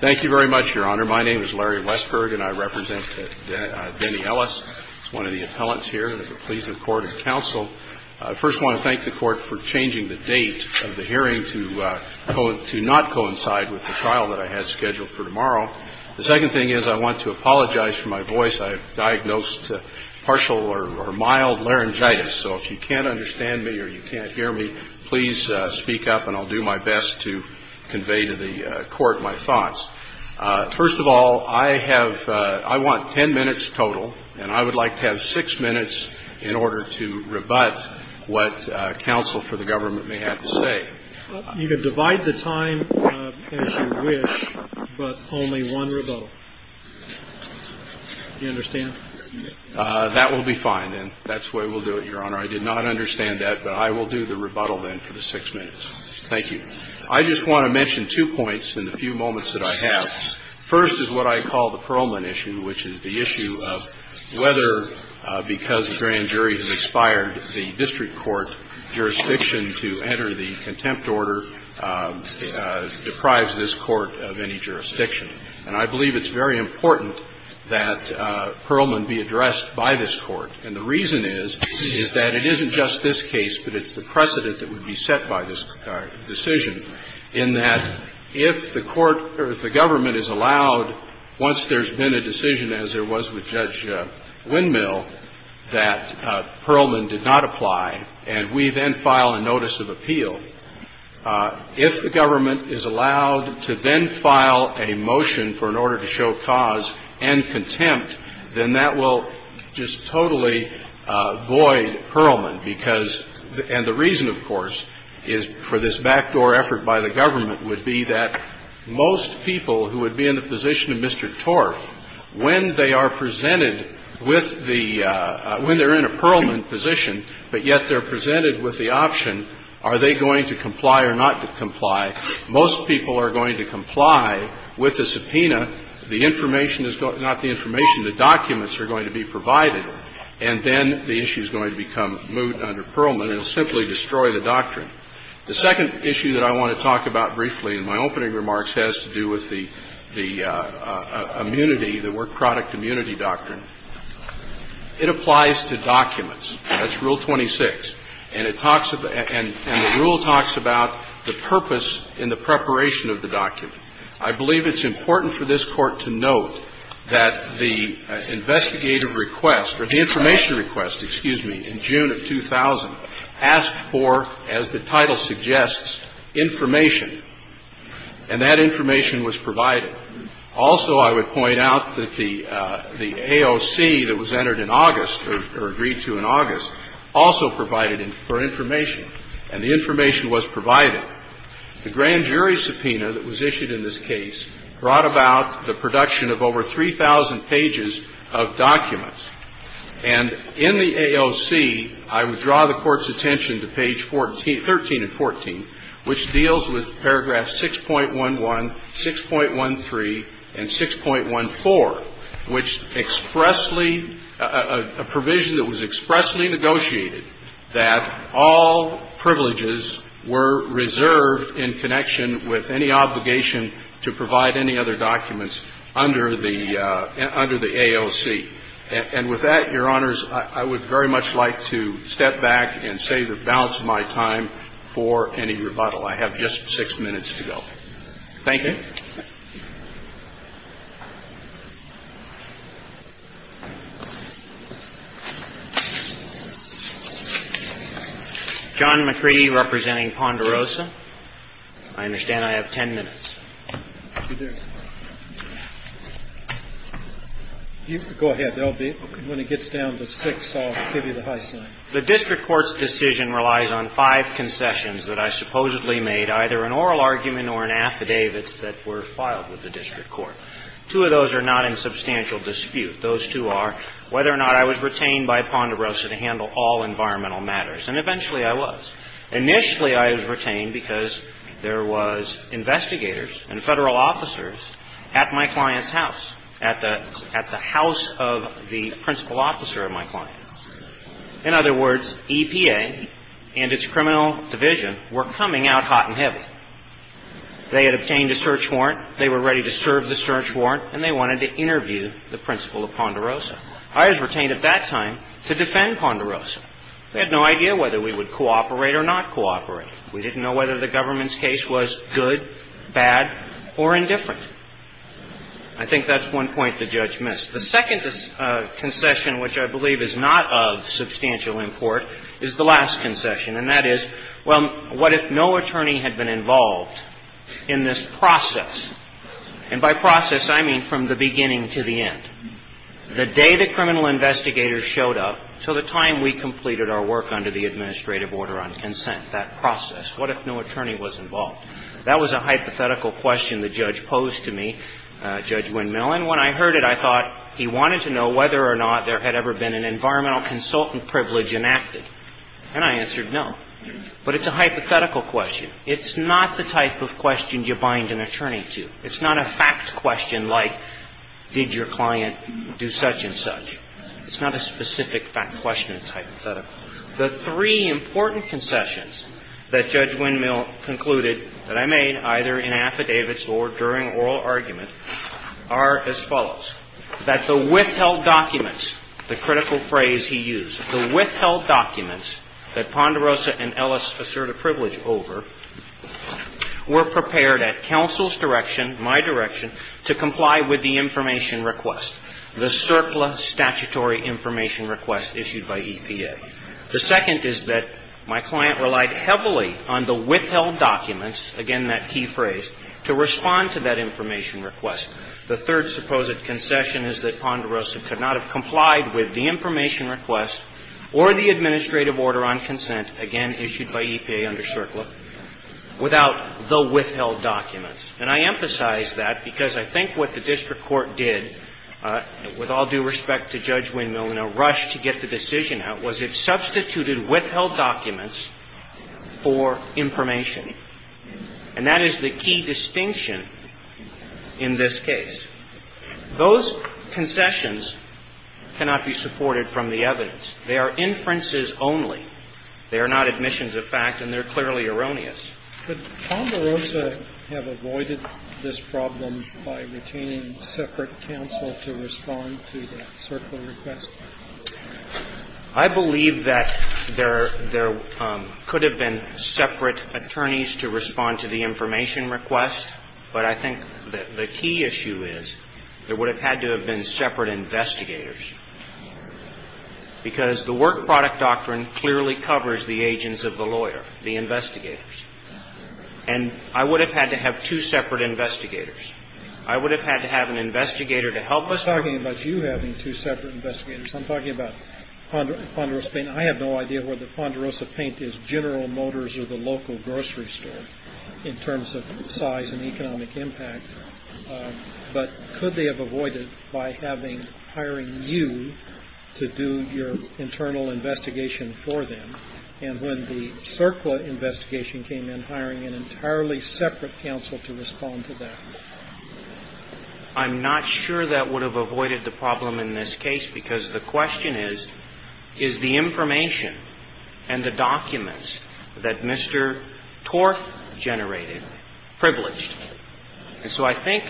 Thank you very much, Your Honor. My name is Larry Westberg, and I represent Denny Ellis. He's one of the appellants here, and we're pleased with court and counsel. I first want to thank the court for changing the date of the hearing to not coincide with the trial that I had scheduled for tomorrow. The second thing is I want to apologize for my voice. I have diagnosed partial or mild laryngitis, so if you can't understand me or you can't hear me, please speak up and I'll do my best to convey to the court my thoughts. First of all, I have I want ten minutes total, and I would like to have six minutes in order to rebut what counsel for the government may have to say. You can divide the time as you wish, but only one rebuttal. Do you understand? That will be fine, then. That's the way we'll do it, Your Honor. I did not understand that, but I will do the rebuttal, then, for the six minutes. Thank you. I just want to mention two points in the few moments that I have. First is what I call the Perlman issue, which is the issue of whether, because the grand jury has expired, the district court jurisdiction to enter the contempt order deprives this court of any jurisdiction. And I believe it's very important that Perlman be addressed by this court. And the reason is, is that it isn't just this case, but it's the precedent that would be set by this decision in that if the court or if the government is allowed, once there's been a decision as there was with Judge Windmill, that Perlman did not apply and we then file a notice of appeal, if the government is allowed to then file a motion for an order to show cause and contempt, then that will just totally void Perlman, because, and the reason, of course, is for this backdoor effort by the government would be that most people who would be in the position of Mr. Torf, when they are presented with the, when they're in a Perlman position, but yet they're presented with the option, are they going to comply or not comply, most people are going to comply with the subpoena. The information is going to, not the information, the documents are going to be provided, and then the issue is going to become moot under Perlman and simply destroy the doctrine. The second issue that I want to talk about briefly in my opening remarks has to do with the immunity, the work product immunity doctrine. It applies to documents. That's Rule 26. And it talks about, and the rule talks about the purpose and the preparation of the document. I believe it's important for this Court to note that the investigative request, or the information request, excuse me, in June of 2000 asked for, as the title suggests, information, and that information was provided. Also, I would point out that the AOC that was entered in August, or agreed to in August, also provided for information, and the information was provided. The grand jury subpoena that was issued in this case brought about the production of over 3,000 pages of documents. And in the AOC, I would draw the Court's attention to page 13 and 14, which deals with paragraph 6.11, 6.13, and 6.14, which expressly, a provision that was expressly negotiated that all privileges were reserved in connection with any obligation to provide any other documents under the AOC. And with that, Your Honors, I would very much like to step back and save the balance of my time for any rebuttal. I have just six minutes to go. Thank you. John McCready, representing Ponderosa. I understand I have ten minutes. Go ahead. When it gets down to six, I'll give you the high sign. The district court's decision relies on five concessions that I supposedly made, either an oral argument or an affidavit that were filed with the district court. Two of those are not in substantial dispute. Those two are whether or not I was retained by Ponderosa to handle all environmental matters. And eventually, I was. Initially, I was retained because there was investigators and Federal officers at my client's house, at the house of the principal officer of my client. In other words, EPA and its criminal division were coming out hot and heavy. They had obtained a search warrant. They were ready to serve the search warrant, and they wanted to interview the principal of Ponderosa. I was retained at that time to defend Ponderosa. They had no idea whether we would cooperate or not cooperate. We didn't know whether the government's case was good, bad, or indifferent. I think that's one point the judge missed. The second concession, which I believe is not of substantial import, is the last concession. And that is, well, what if no attorney had been involved in this process? And by process, I mean from the beginning to the end. The day the criminal investigators showed up to the time we completed our work under the administrative order on consent, that process, what if no attorney was involved? That was a hypothetical question the judge posed to me, Judge Wynn-Millen. Even when I heard it, I thought he wanted to know whether or not there had ever been an environmental consultant privilege enacted. And I answered no. But it's a hypothetical question. It's not the type of question you bind an attorney to. It's not a fact question like did your client do such and such. It's not a specific fact question. It's hypothetical. The three important concessions that Judge Wynn-Millen concluded that I made, either in affidavits or during oral argument, are as follows. That the withheld documents, the critical phrase he used, the withheld documents that Ponderosa and Ellis assert a privilege over were prepared at counsel's direction, my direction, to comply with the information request, the surplus statutory information request issued by EPA. The second is that my client relied heavily on the withheld documents, again, that key phrase, to respond to that information request. The third supposed concession is that Ponderosa could not have complied with the information request or the administrative order on consent, again, issued by EPA under CERCLA, without the withheld documents. And I emphasize that because I think what the district court did, with all due respect to Judge Wynn-Millen, a rush to get the decision out was it substituted withheld documents for information. And that is the key distinction in this case. Those concessions cannot be supported from the evidence. They are inferences only. They are not admissions of fact, and they're clearly erroneous. Kennedy. Could Ponderosa have avoided this problem by retaining separate counsel to respond to the CERCLA request? I believe that there could have been separate attorneys to respond to the information request. But I think the key issue is there would have had to have been separate investigators, because the work product doctrine clearly covers the agents of the lawyer, the investigators. And I would have had to have two separate investigators. I would have had to have an investigator to help us. I'm talking about you having two separate investigators. I'm talking about Ponderosa Paint. I have no idea whether Ponderosa Paint is General Motors or the local grocery store in terms of size and economic impact. But could they have avoided by having, hiring you to do your internal investigation for them, and when the CERCLA investigation came in, hiring an entirely separate counsel to respond to that? I'm not sure that would have avoided the problem in this case, because the question is, is the information and the documents that Mr. Torf generated privileged? And so I think,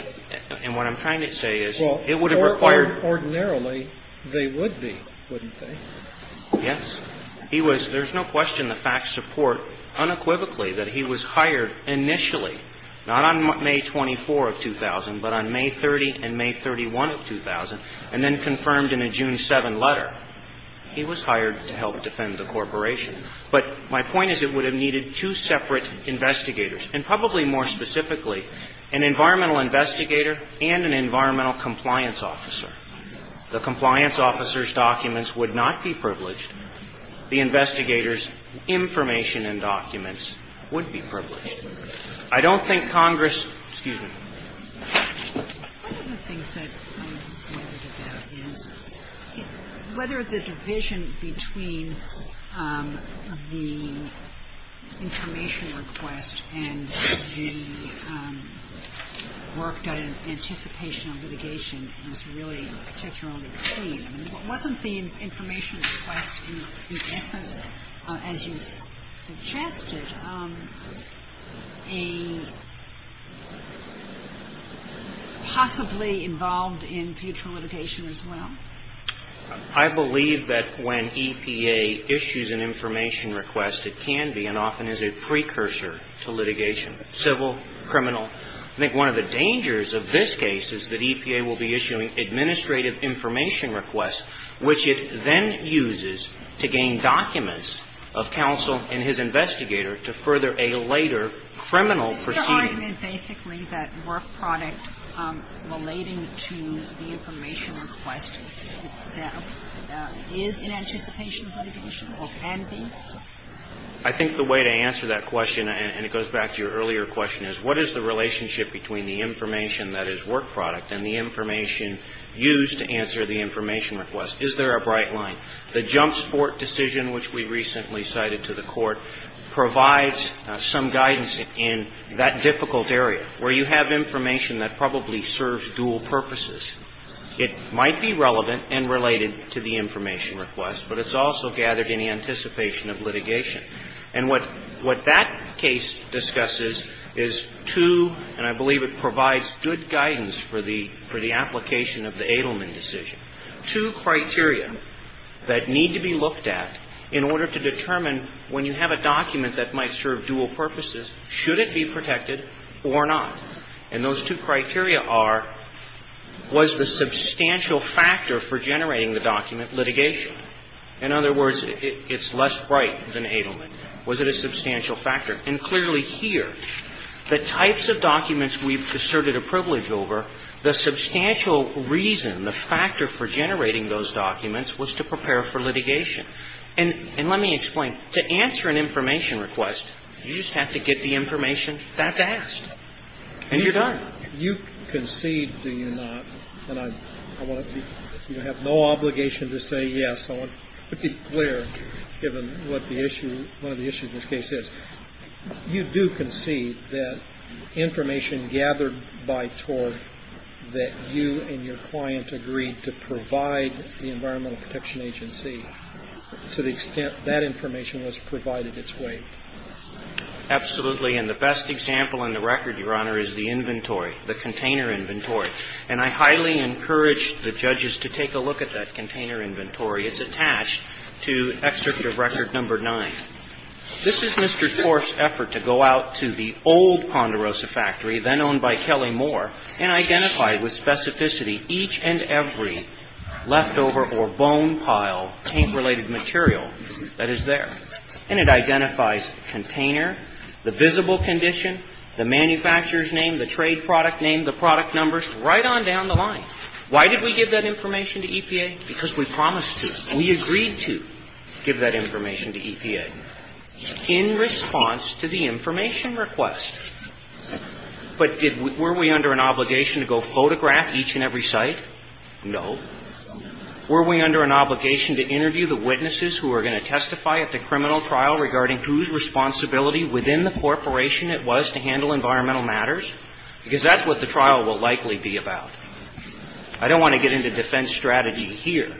and what I'm trying to say is, it would have required. Well, ordinarily, they would be, wouldn't they? Yes. He was, there's no question the facts support unequivocally that he was hired initially, not on May 24 of 2000, but on May 30 and May 31 of 2000, and then confirmed in a June 7 letter. He was hired to help defend the corporation. But my point is, it would have needed two separate investigators, and probably more specifically, an environmental investigator and an environmental compliance officer. The compliance officer's documents would not be privileged. The investigator's information and documents would be privileged. I don't think Congress, excuse me. One of the things that I wondered about is whether the division between the information request and the work done in anticipation of litigation is really particularly clean. I mean, wasn't the information request in essence, as you suggested, a possibly involved in future litigation as well? I believe that when EPA issues an information request, it can be and often is a precursor to litigation, civil, criminal. I think one of the dangers of this case is that EPA will be issuing administrative information requests, which it then uses to gain documents of counsel and his investigator to further a later criminal proceeding. Is the argument basically that work product relating to the information request itself is in anticipation of litigation or can be? I think the way to answer that question, and it goes back to your earlier question, is what is the relationship between the information that is work product and the information used to answer the information request? Is there a bright line? The Jump Sport decision, which we recently cited to the Court, provides some guidance in that difficult area, where you have information that probably serves dual purposes. It might be relevant and related to the information request, but it's also gathered in the anticipation of litigation. And what that case discusses is two, and I believe it provides good guidance for the application of the Adleman decision, two criteria that need to be looked at in order to determine when you have a document that might serve dual purposes, should it be protected or not? And those two criteria are, was the substantial factor for generating the document litigation? In other words, it's less bright than Adleman. Was it a substantial factor? And clearly here, the types of documents we've asserted a privilege over, the substantial reason, the factor for generating those documents was to prepare for litigation. And let me explain. To answer an information request, you just have to get the information that's asked, and you're done. You concede, do you not, and I want to be, you have no obligation to say yes. I want to be clear, given what the issue, one of the issues in this case is, you do concede that information gathered by TORG that you and your client agreed to provide the Environmental Protection Agency, to the extent that information was provided its way? Absolutely. And the best example in the record, Your Honor, is the inventory, the container inventory. And I highly encourage the judges to take a look at that container inventory. It's attached to Excerpt of Record No. 9. This is Mr. TORG's effort to go out to the old Ponderosa factory, then owned by Kelly Moore, and identify with specificity each and every leftover or bone pile, paint-related material that is there. And it identifies the container, the visible condition, the manufacturer's name, the trade product name, the product numbers, right on down the line. Why did we give that information to EPA? Because we promised to. We agreed to give that information to EPA in response to the information request. But were we under an obligation to go photograph each and every site? No. Were we under an obligation to interview the witnesses who were going to testify at the criminal trial regarding whose responsibility within the corporation it was to handle environmental matters? Because that's what the trial will likely be about. I don't want to get into defense strategy here.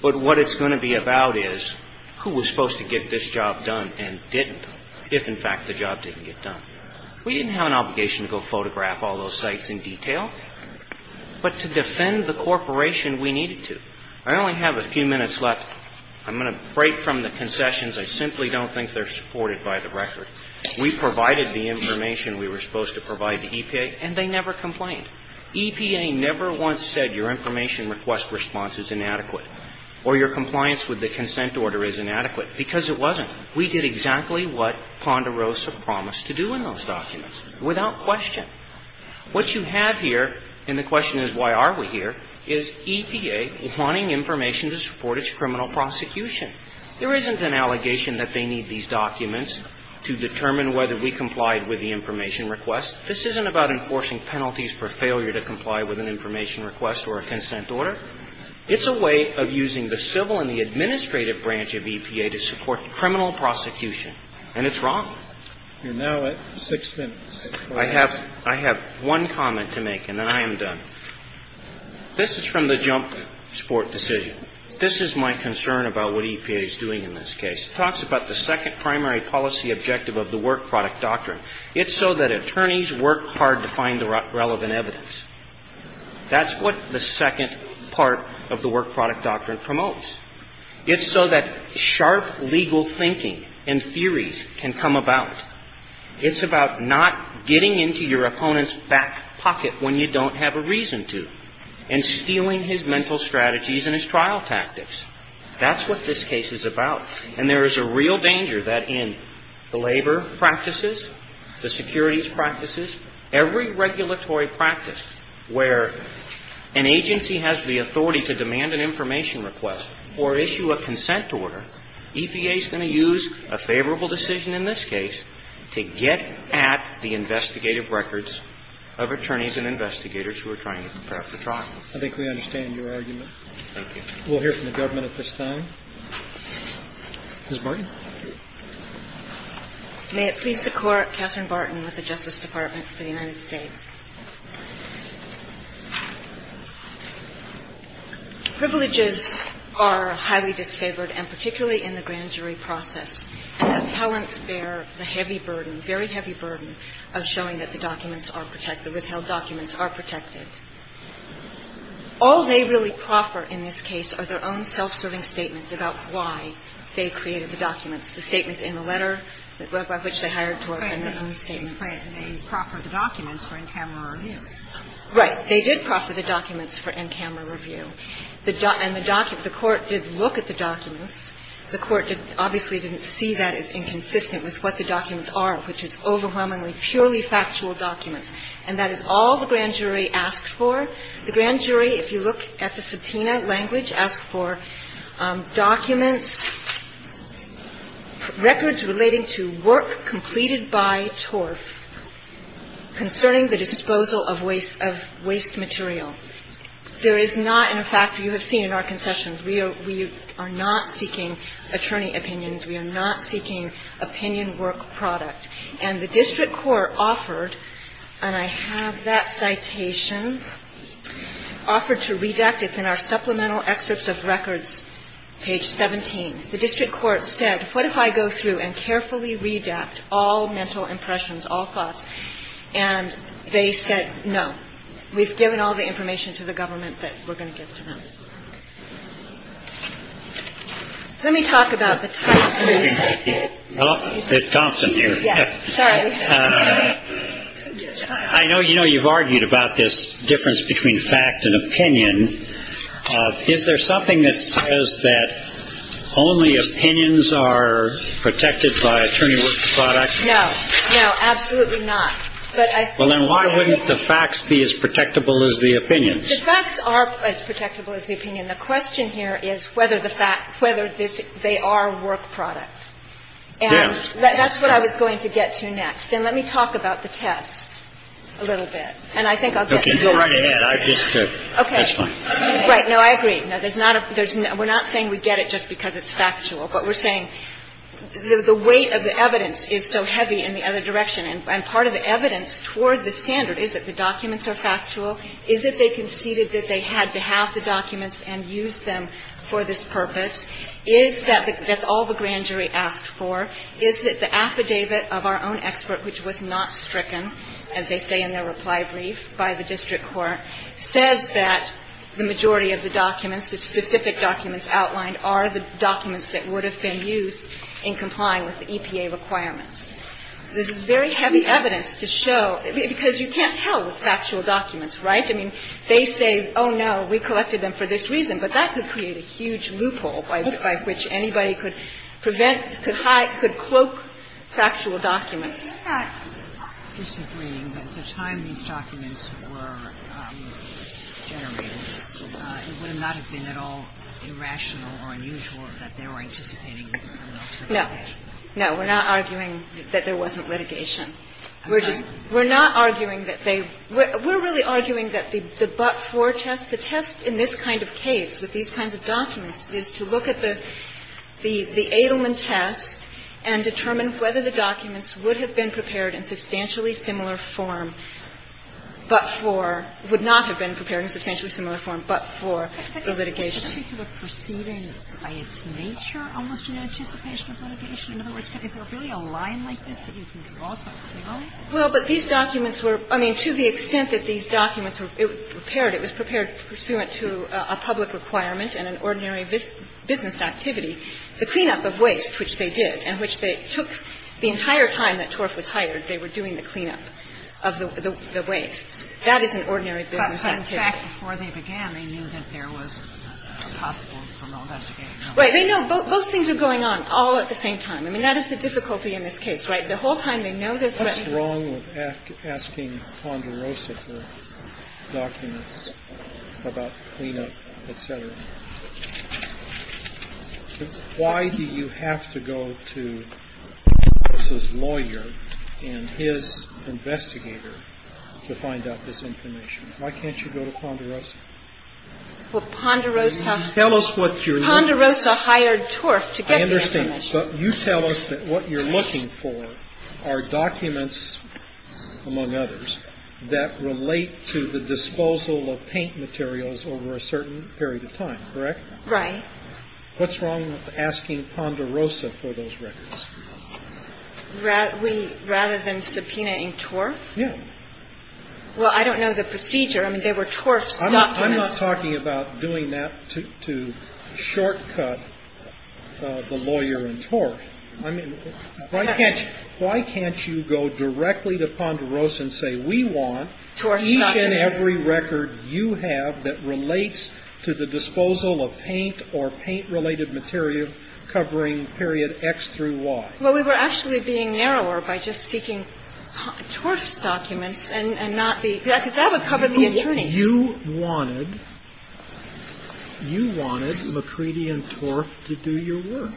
But what it's going to be about is who was supposed to get this job done and didn't, if in fact the job didn't get done. We didn't have an obligation to go photograph all those sites in detail. But to defend the corporation, we needed to. I only have a few minutes left. I'm going to break from the concessions. I simply don't think they're supported by the record. We provided the information we were supposed to provide to EPA, and they never complained. EPA never once said your information request response is inadequate or your compliance with the consent order is inadequate, because it wasn't. We did exactly what Ponderosa promised to do in those documents, without question. What you have here, and the question is why are we here, is EPA wanting information to support its criminal prosecution. There isn't an allegation that they need these documents to determine whether we complied with the information request. This isn't about enforcing penalties for failure to comply with an information request or a consent order. It's a way of using the civil and the administrative branch of EPA to support criminal prosecution. And it's wrong. You're now at six minutes. I have one comment to make, and then I am done. This is from the Jump Sport decision. This is my concern about what EPA is doing in this case. It talks about the second primary policy objective of the work product doctrine. It's so that attorneys work hard to find the relevant evidence. That's what the second part of the work product doctrine promotes. It's so that sharp legal thinking and theories can come about. It's about not getting into your opponent's back pocket when you don't have a reason to and stealing his mental strategies and his trial tactics. That's what this case is about. And there is a real danger that in the labor practices, the securities practices, every regulatory practice where an agency has the authority to demand an information request or issue a consent order, EPA is going to use a favorable decision in this case to get at the investigative records of attorneys and investigators who are trying to compare. I think we understand your argument. Thank you. We'll hear from the government at this time. Ms. Barton. May it please the Court, Catherine Barton with the Justice Department for the United States. Privileges are highly disfavored, and particularly in the grand jury process. And appellants bear the heavy burden, very heavy burden, of showing that the documents are protected, withheld documents are protected. All they really proffer in this case are their own self-serving statements about why they created the documents, the statements in the letter by which they hired to work and their own statements. And they proffer the documents for in-camera review. Right. They did proffer the documents for in-camera review. And the court did look at the documents. The court obviously didn't see that as inconsistent with what the documents are, which is overwhelmingly purely factual documents. And that is all the grand jury asked for. The grand jury, if you look at the subpoena language, asked for documents, records relating to work completed by Torf concerning the disposal of waste material. There is not, in fact, you have seen in our concessions, we are not seeking attorney opinions, we are not seeking opinion work product. And the district court offered, and I have that citation, offered to redact. It's in our supplemental excerpts of records, page 17. The district court said, what if I go through and carefully redact all mental impressions, all thoughts? And they said no. We've given all the information to the government that we're going to give to them. Let me talk about the title. Hello? Thompson here. Yes. Sorry. I know you know you've argued about this difference between fact and opinion. Is there something that says that only opinions are protected by attorney work product? No. No, absolutely not. Well, then why wouldn't the facts be as protectable as the opinions? The facts are as protectable as the opinion. The question here is whether the fact, whether they are work product. Yes. And that's what I was going to get to next. And let me talk about the test a little bit. And I think I'll get to that. Okay. That's fine. Right. No, I agree. We're not saying we get it just because it's factual. But we're saying the weight of the evidence is so heavy in the other direction. And part of the evidence toward the standard is that the documents are factual, is that they conceded that they had to have the documents and use them for this purpose, is that that's all the grand jury asked for, is that the affidavit of our own expert, which was not stricken, as they say in their reply brief, by the district court, says that the majority of the documents, the specific documents outlined, are the documents that would have been used in complying with the EPA requirements. So this is very heavy evidence to show, because you can't tell it was factual documents, right? I mean, they say, oh, no, we collected them for this reason. But that could create a huge loophole by which anybody could prevent, could hide, could look at the documents and then say, oh, it's factual, it's factual. So it's very heavy evidence to show that the majority of the documents were factual documents. It's not disagreeing that at the time these documents were generated, it would have not have been at all irrational or unusual that they were anticipating the criminal subpoena. No. We're not arguing that there wasn't litigation. We're not arguing that they – we're really arguing that the but-for test, the test in this kind of case with these kinds of documents is to look at the Adelman test and determine whether the documents would have been prepared in substantially similar form but for – would not have been prepared in substantially similar form but for the litigation. And so the question is, is there a particular proceeding by its nature almost in anticipation of litigation? In other words, is there really a line like this that you can draw something from? No? Well, but these documents were – I mean, to the extent that these documents were prepared, it was prepared pursuant to a public requirement and an ordinary business activity, the cleanup of waste, which they did, and which they took the entire time that Torf was hired, they were doing the cleanup of the wastes. That is an ordinary business activity. But in fact, before they began, they knew that there was a possible criminal investigation. Right. They know both things are going on all at the same time. I mean, that is the difficulty in this case, right? The whole time they know they're threatening. What's wrong with asking Ponderosa for documents about cleanup, et cetera? Why do you have to go to Torf's lawyer and his investigator to find out this information? Why can't you go to Ponderosa? Well, Ponderosa – Tell us what you're looking for. Ponderosa hired Torf to get the information. I understand. But you tell us that what you're looking for are documents, among others, that relate to the disposal of paint materials over a certain period of time, correct? Right. What's wrong with asking Ponderosa for those records? Rather than subpoenaing Torf? Yeah. Well, I don't know the procedure. I mean, they were Torf's documents. I'm not talking about doing that to shortcut the lawyer in Torf. I mean, why can't you go directly to Ponderosa and say, we want each and every record you have that relates to the disposal of paint or paint-related material covering period X through Y? Well, we were actually being narrower by just seeking Torf's documents and not the – because that would cover the attorneys. You wanted – you wanted McCready and Torf to do your work.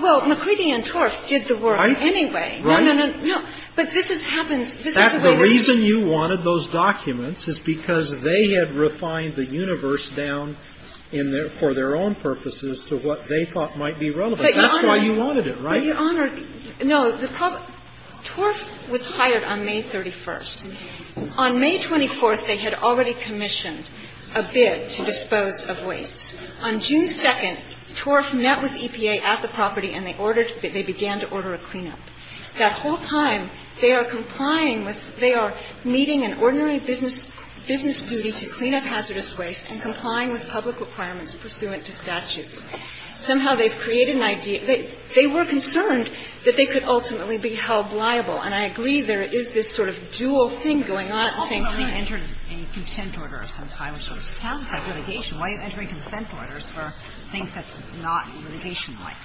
Well, McCready and Torf did the work anyway. Right? No, no, no. No. But this has happened – this is the way we – The reason you wanted those documents is because they had refined the universe down in their – for their own purposes to what they thought might be relevant. But, Your Honor – That's why you wanted it, right? Well, Your Honor, no, the – Torf was hired on May 31st. On May 24th, they had already commissioned a bid to dispose of wastes. On June 2nd, Torf met with EPA at the property and they ordered – they began to order a cleanup. That whole time, they are complying with – they are meeting an ordinary business duty to clean up hazardous waste and complying with public requirements pursuant to statutes. Somehow, they've created an idea – they were concerned that they could ultimately be held liable. And I agree there is this sort of dual thing going on at the same time. Ultimately, you entered a consent order of some kind, which sort of sounds like litigation. Why are you entering consent orders for things that's not litigation-like?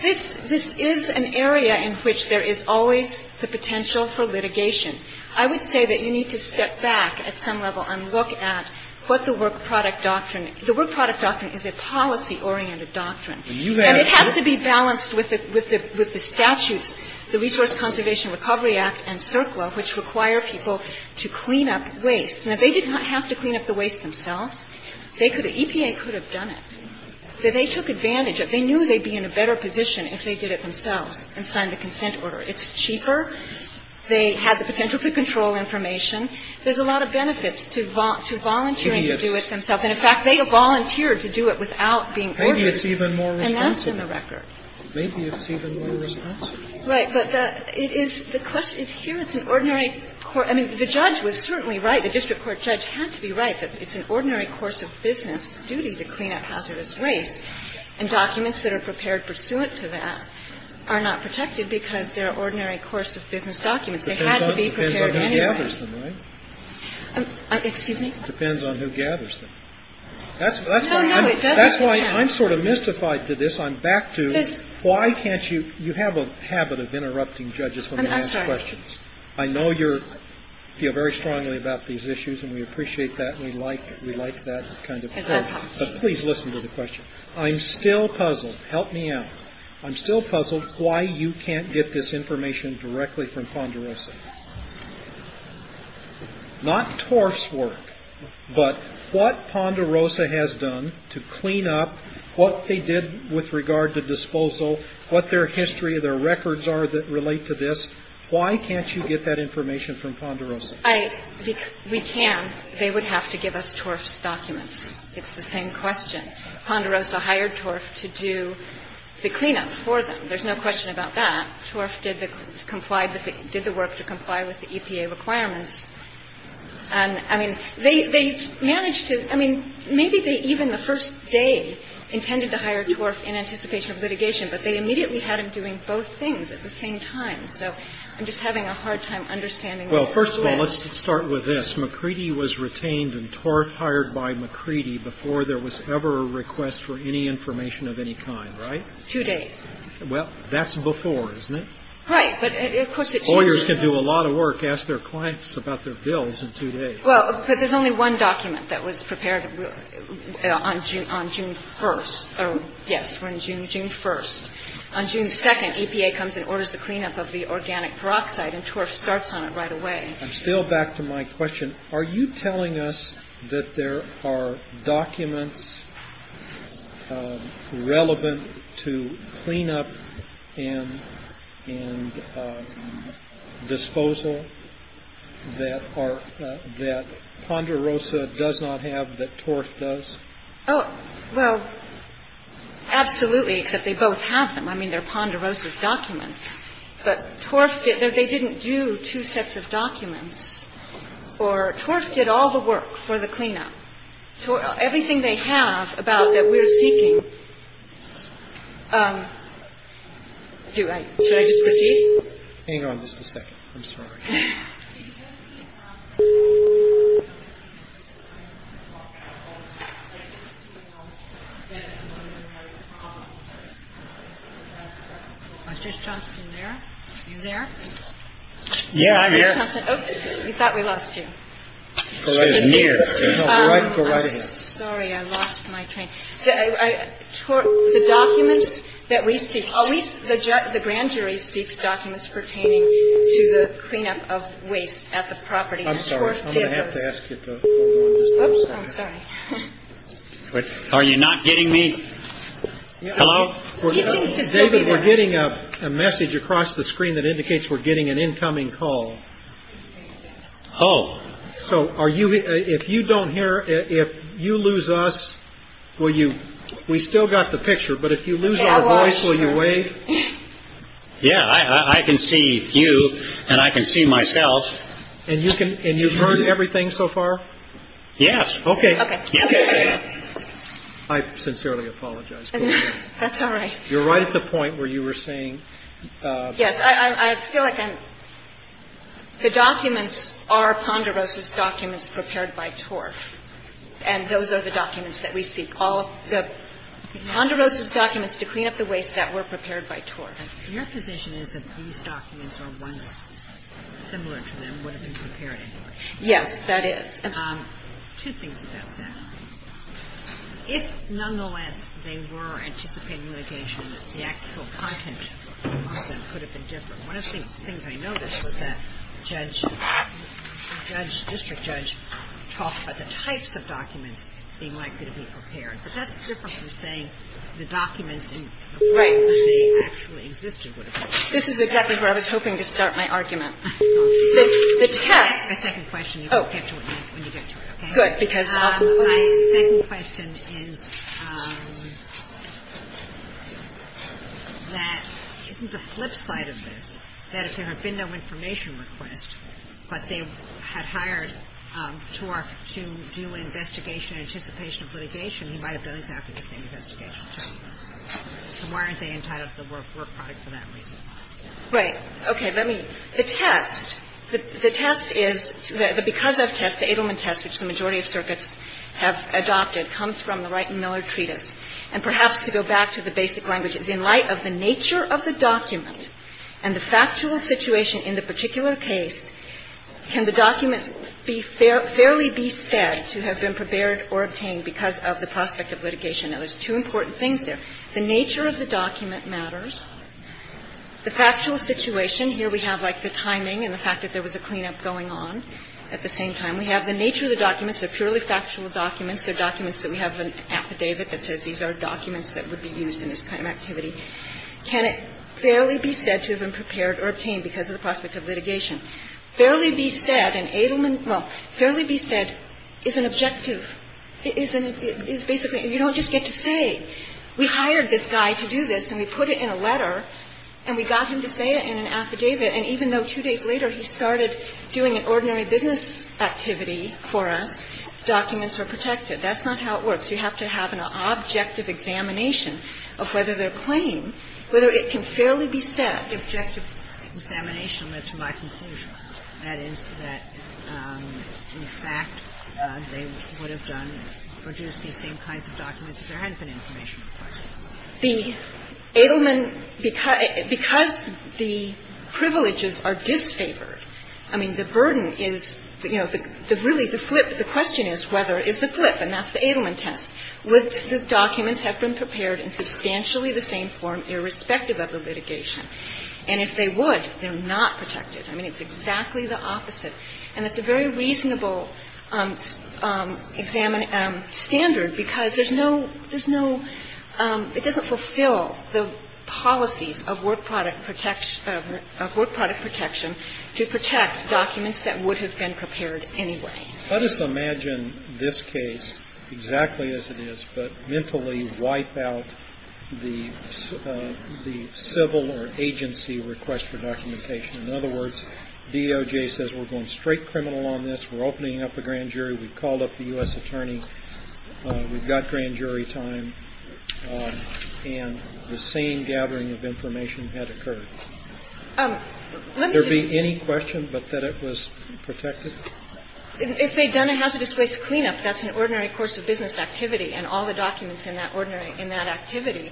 This – this is an area in which there is always the potential for litigation. I would say that you need to step back at some level and look at what the work product doctrine – the work product doctrine is a policy-oriented doctrine. And it has to be balanced with the – with the statutes, the Resource Conservation Recovery Act and CERCLA, which require people to clean up waste. Now, they did not have to clean up the waste themselves. They could – EPA could have done it. They took advantage of – they knew they'd be in a better position if they did it themselves and signed the consent order. It's cheaper. They had the potential to control information. There's a lot of benefits to volunteering to do it themselves. And, in fact, they volunteered to do it without being ordered. And that's in the record. Maybe it's even more responsible. Right. But it is – the question is here it's an ordinary court – I mean, the judge was certainly right. The district court judge had to be right that it's an ordinary course of business duty to clean up hazardous waste. And documents that are prepared pursuant to that are not protected because they're ordinary course of business documents. They had to be prepared anyway. It depends on who gathers them, right? Excuse me? It depends on who gathers them. That's why I'm sort of mystified to this. I'm back to why can't you – you have a habit of interrupting judges when they ask questions. I know you feel very strongly about these issues and we appreciate that and we like that kind of approach. But please listen to the question. I'm still puzzled. Help me out. I'm still puzzled why you can't get this information directly from Ponderosa. Not TORF's work, but what Ponderosa has done to clean up what they did with regard to disposal, what their history, their records are that relate to this, why can't you get that information from Ponderosa? We can. They would have to give us TORF's documents. It's the same question. Ponderosa hired TORF to do the cleanup for them. There's no question about that. TORF did the work to comply with the EPA requirements. And, I mean, they managed to – I mean, maybe they even the first day intended to hire TORF in anticipation of litigation, but they immediately had him doing both things at the same time. So I'm just having a hard time understanding this. Well, first of all, let's start with this. McCready was retained and TORF hired by McCready before there was ever a request for any information of any kind, right? Two days. Well, that's before, isn't it? Right, but of course it changes. Lawyers can do a lot of work, ask their clients about their bills in two days. Well, but there's only one document that was prepared on June 1st. Yes, on June 1st. On June 2nd, EPA comes and orders the cleanup of the organic peroxide and TORF starts on it right away. I'm still back to my question. And are you telling us that there are documents relevant to cleanup and disposal that Ponderosa does not have that TORF does? Oh, well, absolutely, except they both have them. But TORF didn't do two sets of documents. OR TORF did all the work for the cleanup. Everything they have about that we're seeking. Should I just proceed? Hang on just a second. I'm sorry. Mr. Johnson there? Are you there? Yeah, I'm here. Mr. Johnson. Oh, we thought we lost you. She was here. I'm sorry. I lost my train. The documents that we seek. At least the grand jury seeks documents pertaining to the cleanup of waste at the property. I'm sorry. I'm going to have to ask you to hold on just a second. I'm sorry. Are you not getting me? Hello? He seems to still be there. David, we're getting a message across the screen that indicates we're getting an incoming call. Oh. So are you if you don't hear if you lose us, will you we still got the picture. But if you lose your voice, will you wait? Yeah, I can see you and I can see myself. And you can and you've heard everything so far. Yes. OK. OK. I sincerely apologize. That's all right. You're right at the point where you were saying. Yes. I feel like I'm the documents are Ponderosa's documents prepared by TORF. And those are the documents that we seek all the Ponderosa's documents to clean up the waste that were prepared by TORF. Your position is that these documents are once similar to them would have been prepared. Yes, that is. Two things about that. If nonetheless they were anticipated litigation, the actual content could have been different. One of the things I noticed was that judge judge district judge talked about the types of documents being likely to be prepared. But that's different from saying the documents. Right. They actually existed. This is exactly where I was hoping to start my argument. The test. Second question. Oh, good. Because my second question is. That isn't the flip side of this. That if there had been no information request, but they had hired TORF to do an investigation, anticipation of litigation, he might have done exactly the same investigation. So why aren't they entitled to the work product for that reason? Right. Okay. Let me. The test, the test is, because of test, the Adelman test, which the majority of circuits have adopted, comes from the Wright and Miller treatise. And perhaps to go back to the basic language, it's in light of the nature of the document and the factual situation in the particular case, can the document be fairly besaid to have been prepared or obtained because of the prospect of litigation. Now, there's two important things there. The nature of the document matters. The factual situation, here we have like the timing and the fact that there was a cleanup going on at the same time. We have the nature of the documents. They're purely factual documents. They're documents that we have an affidavit that says these are documents that would be used in this kind of activity. Can it fairly besaid to have been prepared or obtained because of the prospect of litigation? Fairly besaid and Adelman, well, fairly besaid is an objective. It is basically, you don't just get to say, we hired this guy to do this, and we put it in a letter, and we got him to say it in an affidavit. And even though two days later he started doing an ordinary business activity for us, documents were protected. That's not how it works. You have to have an objective examination of whether their claim, whether it can fairly besaid. The objective examination led to my conclusion, that is, that in fact they would have done or produced these same kinds of documents if there hadn't been information required. The Adelman, because the privileges are disfavored, I mean, the burden is, you know, really the flip, the question is whether, is the flip, and that's the Adelman test. Would the documents have been prepared in substantially the same form irrespective of the litigation? And if they would, they're not protected. I mean, it's exactly the opposite. And it's a very reasonable standard because there's no, there's no, it doesn't fulfill the policies of work product protection, of work product protection to protect documents that would have been prepared anyway. Let us imagine this case exactly as it is, but mentally wipe out the civil or agency request for documentation. In other words, DOJ says we're going straight criminal on this. We're opening up a grand jury. We've called up the U.S. attorney. We've got grand jury time. And the same gathering of information had occurred. Would there be any question but that it was protected? If they'd done a hazardous waste cleanup, that's an ordinary course of business activity, and all the documents in that ordinary, in that activity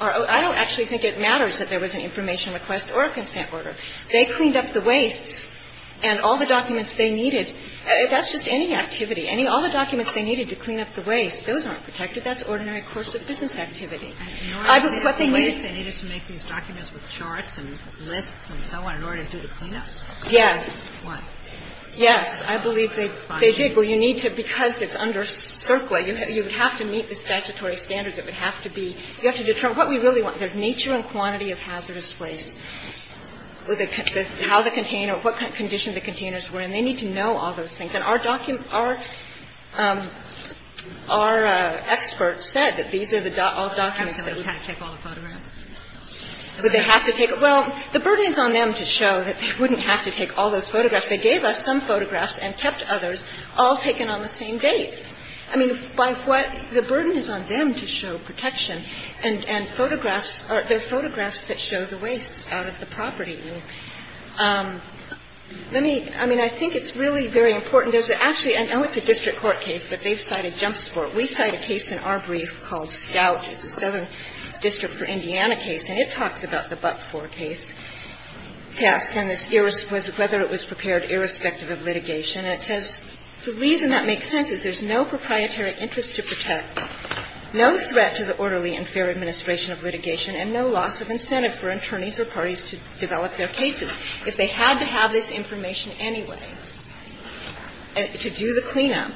are, I don't actually think it matters that there was an information request or a consent order. They cleaned up the wastes and all the documents they needed, that's just any activity, any, all the documents they needed to clean up the waste, those aren't protected. That's ordinary course of business activity. I believe what they needed. And in order to get the waste, they needed to make these documents with charts and lists and so on in order to do the cleanup? Yes. Why? Yes. I believe they did. Well, you need to, because it's under CERCLA, you would have to meet the statutory standards. It would have to be, you have to determine what we really want. There's nature and quantity of hazardous waste. How the container, what condition the containers were in. They need to know all those things. And our document, our expert said that these are the documents that we would need. Would they have to take, well, the burden is on them to show that they wouldn't have to take all those photographs. They gave us some photographs and kept others all taken on the same dates. I mean, by what, the burden is on them to show protection. And photographs, there are photographs that show the wastes out at the property. Let me, I mean, I think it's really very important. There's actually, I know it's a district court case, but they've cited jump sport. We cite a case in our brief called Scout. It's a southern district for Indiana case. And it talks about the but-for case test and whether it was prepared irrespective of litigation. And it says the reason that makes sense is there's no proprietary interest to protect, no threat to the orderly and fair administration of litigation and no loss of incentive for attorneys or parties to develop their cases. If they had to have this information anyway to do the cleanup,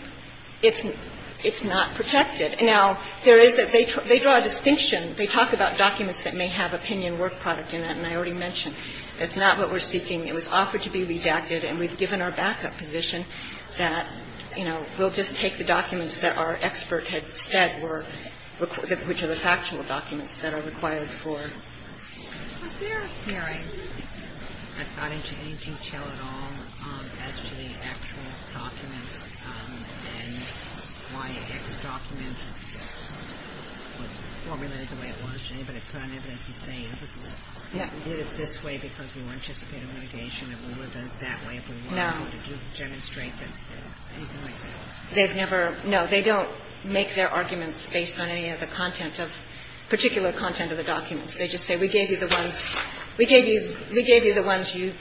it's not protected. Now, there is a, they draw a distinction. They talk about documents that may have opinion work product in it. And I already mentioned, that's not what we're seeking. It was offered to be redacted and we've given our backup position that, you know, we'll just take the documents that our expert had said were, which are the factual documents that are required for. Was there a hearing that got into any detail at all as to the actual documents and why X document was formulated the way it was? Did anybody put on evidence and say, this is, we did it this way because we were anticipating litigation and we would have done it that way if we wanted to. No. Did you demonstrate that, anything like that? They've never, no, they don't make their arguments based on any of the content of, particular content of the documents. They just say, we gave you the ones, we gave you, we gave you the ones you,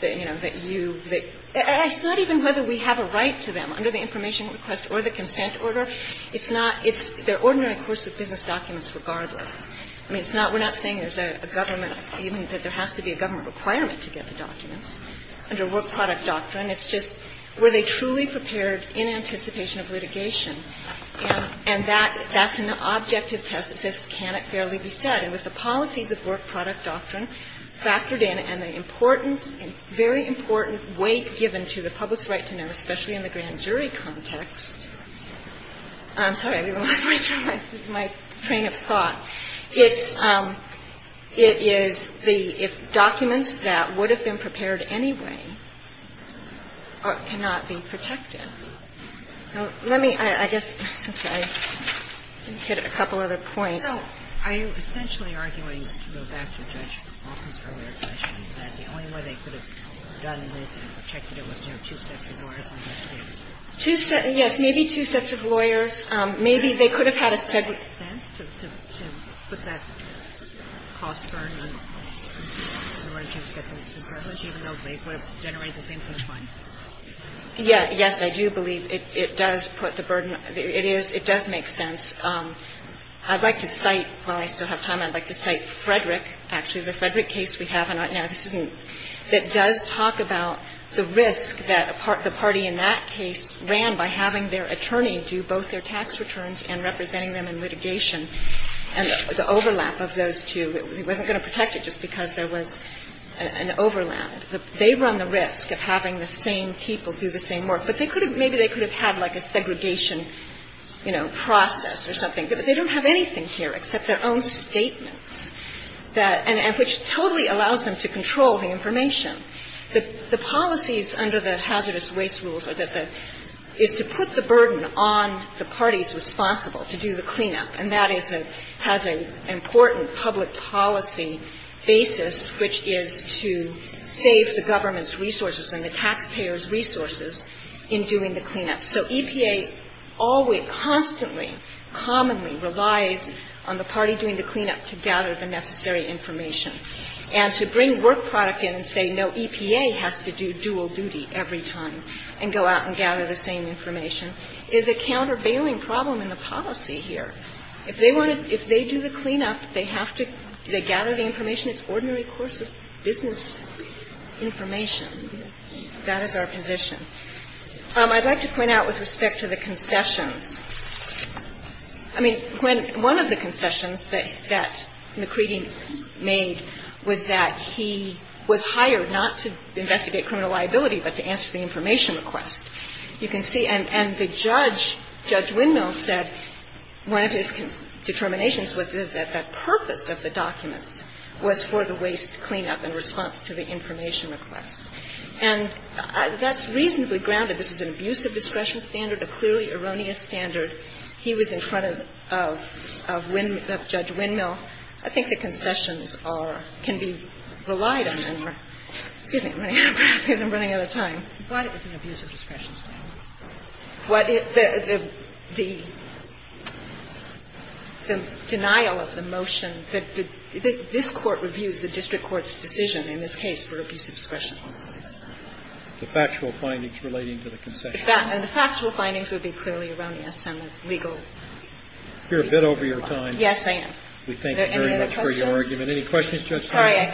that, you know, that you, that, and it's not even whether we have a right to them under the information request or the consent order. It's not, it's their ordinary course of business documents regardless. I mean, it's not, we're not saying there's a government, even that there has to be a government requirement to get the documents under work product doctrine. It's just, were they truly prepared in anticipation of litigation? And, and that, that's an objective test that says, can it fairly be said? And with the policies of work product doctrine factored in and the important, very important weight given to the public's right to know, especially in the grand jury context, I'm sorry, I lost my train of thought. It's, it is the, if documents that would have been prepared anyway cannot be protected. Let me, I guess, since I hit a couple other points. The only way they could have done this and protected it was to have two sets of lawyers on the stand. Two sets, yes, maybe two sets of lawyers. Maybe they could have had a separate. Does it make sense to, to, to put that cost burden on the right to get the documents even though they could have generated the same thing twice? Yeah, yes, I do believe it, it does put the burden, it is, it does make sense. I'd like to cite, while I still have time, I'd like to cite Frederick, actually, the Frederick case we have on right now. This isn't, that does talk about the risk that the party in that case ran by having their attorney do both their tax returns and representing them in litigation. And the overlap of those two, it wasn't going to protect it just because there was an, an overlap. They run the risk of having the same people do the same work. But they could have, maybe they could have had like a segregation, you know, process or something. But they don't have anything here except their own statements that, and, and which totally allows them to control the information. The, the policies under the hazardous waste rules are that the, is to put the burden on the parties responsible to do the cleanup. And that is a, has an important public policy basis which is to save the government's resources in doing the cleanup. So EPA always, constantly, commonly relies on the party doing the cleanup to gather the necessary information. And to bring work product in and say, no, EPA has to do dual duty every time and go out and gather the same information is a countervailing problem in the policy here. If they want to, if they do the cleanup, they have to, they gather the information, it's ordinary course of business information. That is our position. I'd like to point out with respect to the concessions. I mean, when, one of the concessions that, that McCready made was that he was hired not to investigate criminal liability, but to answer the information request. You can see, and, and the judge, Judge Windmill said one of his determinations was that the purpose of the documents was for the waste cleanup in response to the information request. And that's reasonably grounded. This is an abusive discretion standard, a clearly erroneous standard. He was in front of, of, of Judge Windmill. I think the concessions are, can be relied on. Excuse me. I'm running out of time. I thought it was an abusive discretion standard. What, the, the, the, the denial of the motion, the, the, this Court reviews the district court's decision in this case for abusive discretion. The factual findings relating to the concession. And the factual findings would be clearly erroneous and legal. You're a bit over your time. Yes, I am. We thank you very much for your argument. Any questions? Sorry.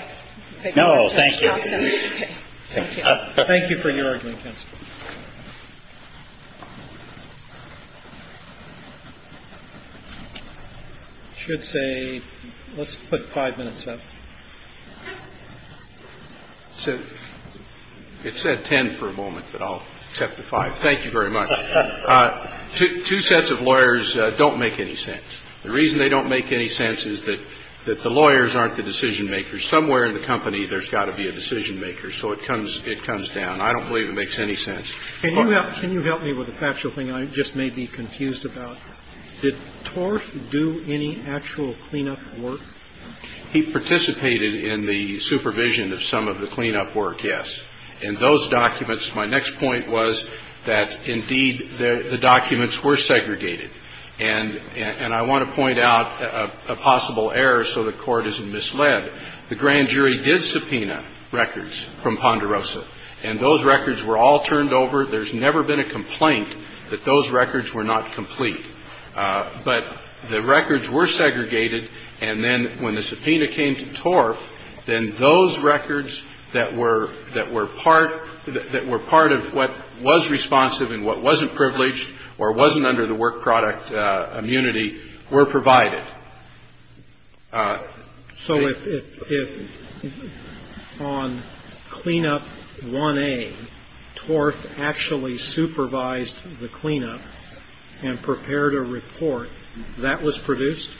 No, thank you. Thank you. Thank you for your argument, counsel. I should say, let's put five minutes up. It said ten for a moment, but I'll accept the five. Thank you very much. Two sets of lawyers don't make any sense. The reason they don't make any sense is that, that the lawyers aren't the decision makers. Somewhere in the company, there's got to be a decision maker. So it comes, it comes down. I don't believe it makes any sense. Can you help, can you help me with a factual thing I just may be confused about? Did Torf do any actual cleanup work? He participated in the supervision of some of the cleanup work, yes. In those documents, my next point was that, indeed, the documents were segregated. And I want to point out a possible error so the Court isn't misled. The grand jury did subpoena records from Ponderosa. And those records were all turned over. There's never been a complaint that those records were not complete. But the records were segregated. And then when the subpoena came to Torf, then those records that were, that were part, that were part of what was responsive and what wasn't privileged or wasn't under the work product immunity were provided. So if, if, if on cleanup 1A, Torf actually supervised the cleanup and prepared a report, that was produced?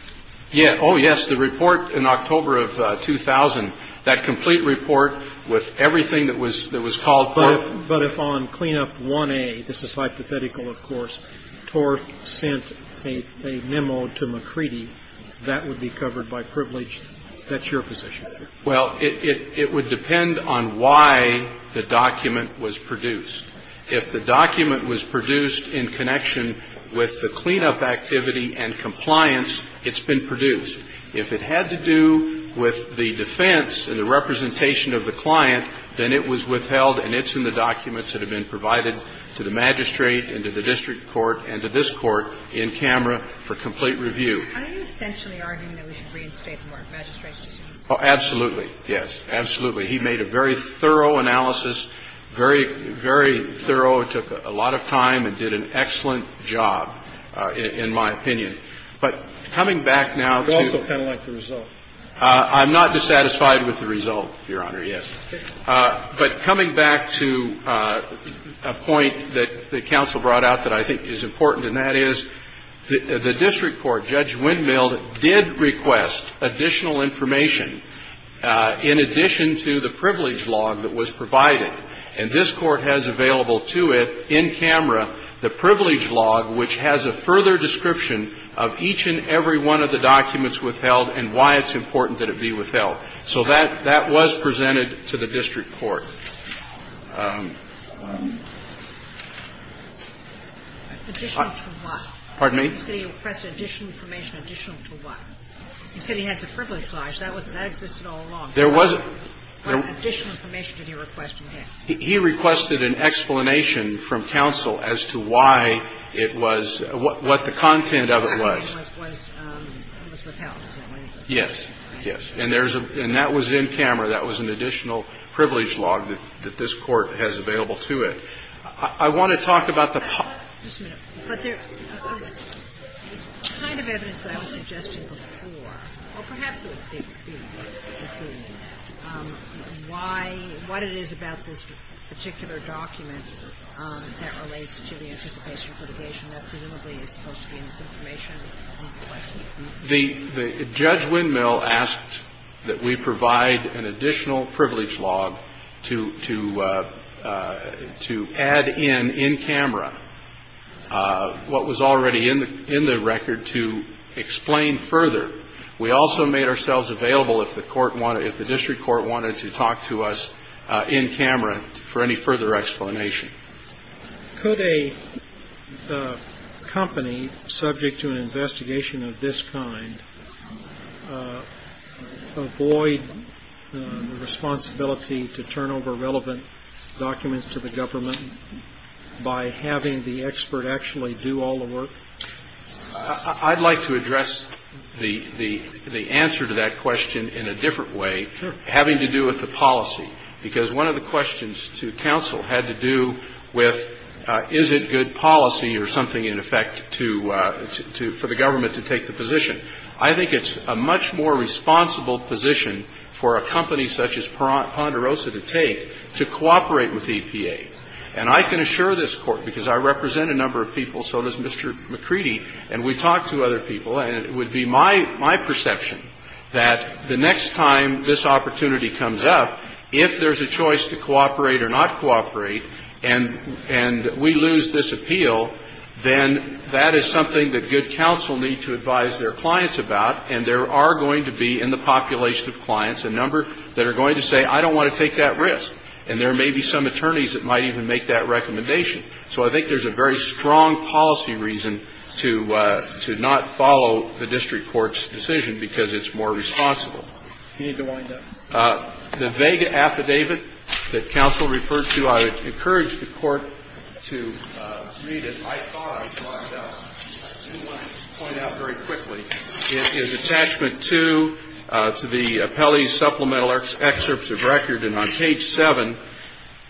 Yeah, oh yes, the report in October of 2000, that complete report with everything that was, that was called for. But if, but if on cleanup 1A, this is hypothetical, of course, Torf sent a, a memo to McCready, that would be covered by privilege? That's your position. Well, it, it, it would depend on why the document was produced. If the document was produced in connection with the cleanup activity and compliance, it's been produced. If it had to do with the defense and the representation of the client, then it was withheld and it's in the documents that have been provided to the magistrate and to the district court and to this Court in camera for complete review. Are you essentially arguing that we should reinstate the Mark Magistrate's decision? Oh, absolutely. Yes, absolutely. He made a very thorough analysis, very, very thorough. It took a lot of time and did an excellent job, in my opinion. But coming back now to the result. You also kind of like the result. I'm not dissatisfied with the result, Your Honor, yes. But coming back to a point that the counsel brought out that I think is important, and that is the district court, Judge Windmill, did request additional information in addition to the privilege log that was provided. And this Court has available to it, in camera, the privilege log, which has a further description of each and every one of the documents withheld and why it's important that it be withheld. So that was presented to the district court. Additional to what? Pardon me? You said he requested additional information additional to what? You said he has a privilege log. That existed all along. There was a – What additional information did he request? He requested an explanation from counsel as to why it was – what the content of it was. It was withheld. Yes. Yes. And that was in camera. That was an additional privilege log that this Court has available to it. I want to talk about the – Just a minute. But there's a kind of evidence that I was suggesting before, or perhaps it would be, why – what it is about this particular document that relates to the anticipation of litigation that presumably is supposed to be in this information. The – Judge Windmill asked that we provide an additional privilege log to add in, in camera, what was already in the record to explain further. We also made ourselves available if the court wanted – if the district court wanted to talk to us in camera for any further explanation. Could a company subject to an investigation of this kind avoid the responsibility to turn over relevant documents to the government by having the expert actually do all the work? I'd like to address the answer to that question in a different way. Sure. I think it's having to do with the policy, because one of the questions to counsel had to do with is it good policy or something, in effect, to – for the government to take the position. I think it's a much more responsible position for a company such as Ponderosa to take to cooperate with EPA. And I can assure this Court, because I represent a number of people, so does Mr. McCready, and we talked to other people, and it would be my perception that the next time this opportunity comes up, if there's a choice to cooperate or not cooperate and we lose this appeal, then that is something that good counsel need to advise their clients about, and there are going to be in the population of clients a number that are going to say, I don't want to take that risk, and there may be some attorneys that might even make that recommendation. So I think there's a very strong policy reason to not follow the district court's decision, because it's more responsible. You need to wind up. The vega affidavit that counsel referred to, I would encourage the Court to read it. I thought I was lined up. I do want to point out very quickly, it is attachment 2 to the appellee's supplemental excerpts of record, and on page 7,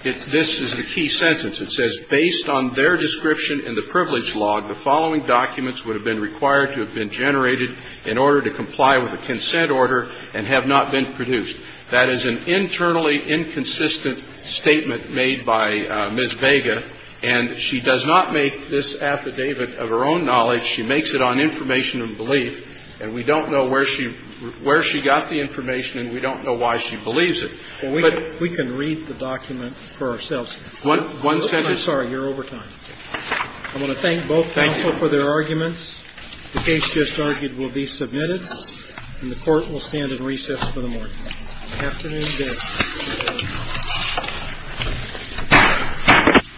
this is the key sentence. It says, ''Based on their description in the privilege log, the following documents would have been required to have been generated in order to comply with the consent order and have not been produced.'' That is an internally inconsistent statement made by Ms. Vega, and she does not make this affidavit of her own knowledge. She makes it on information and belief, and we don't know where she got the information and we don't know why she believes it. But we can read the document for ourselves. One sentence. I'm sorry, you're over time. I want to thank both counsel for their arguments. The case just argued will be submitted, and the Court will stand at recess for the morning. Afternoon, Judge.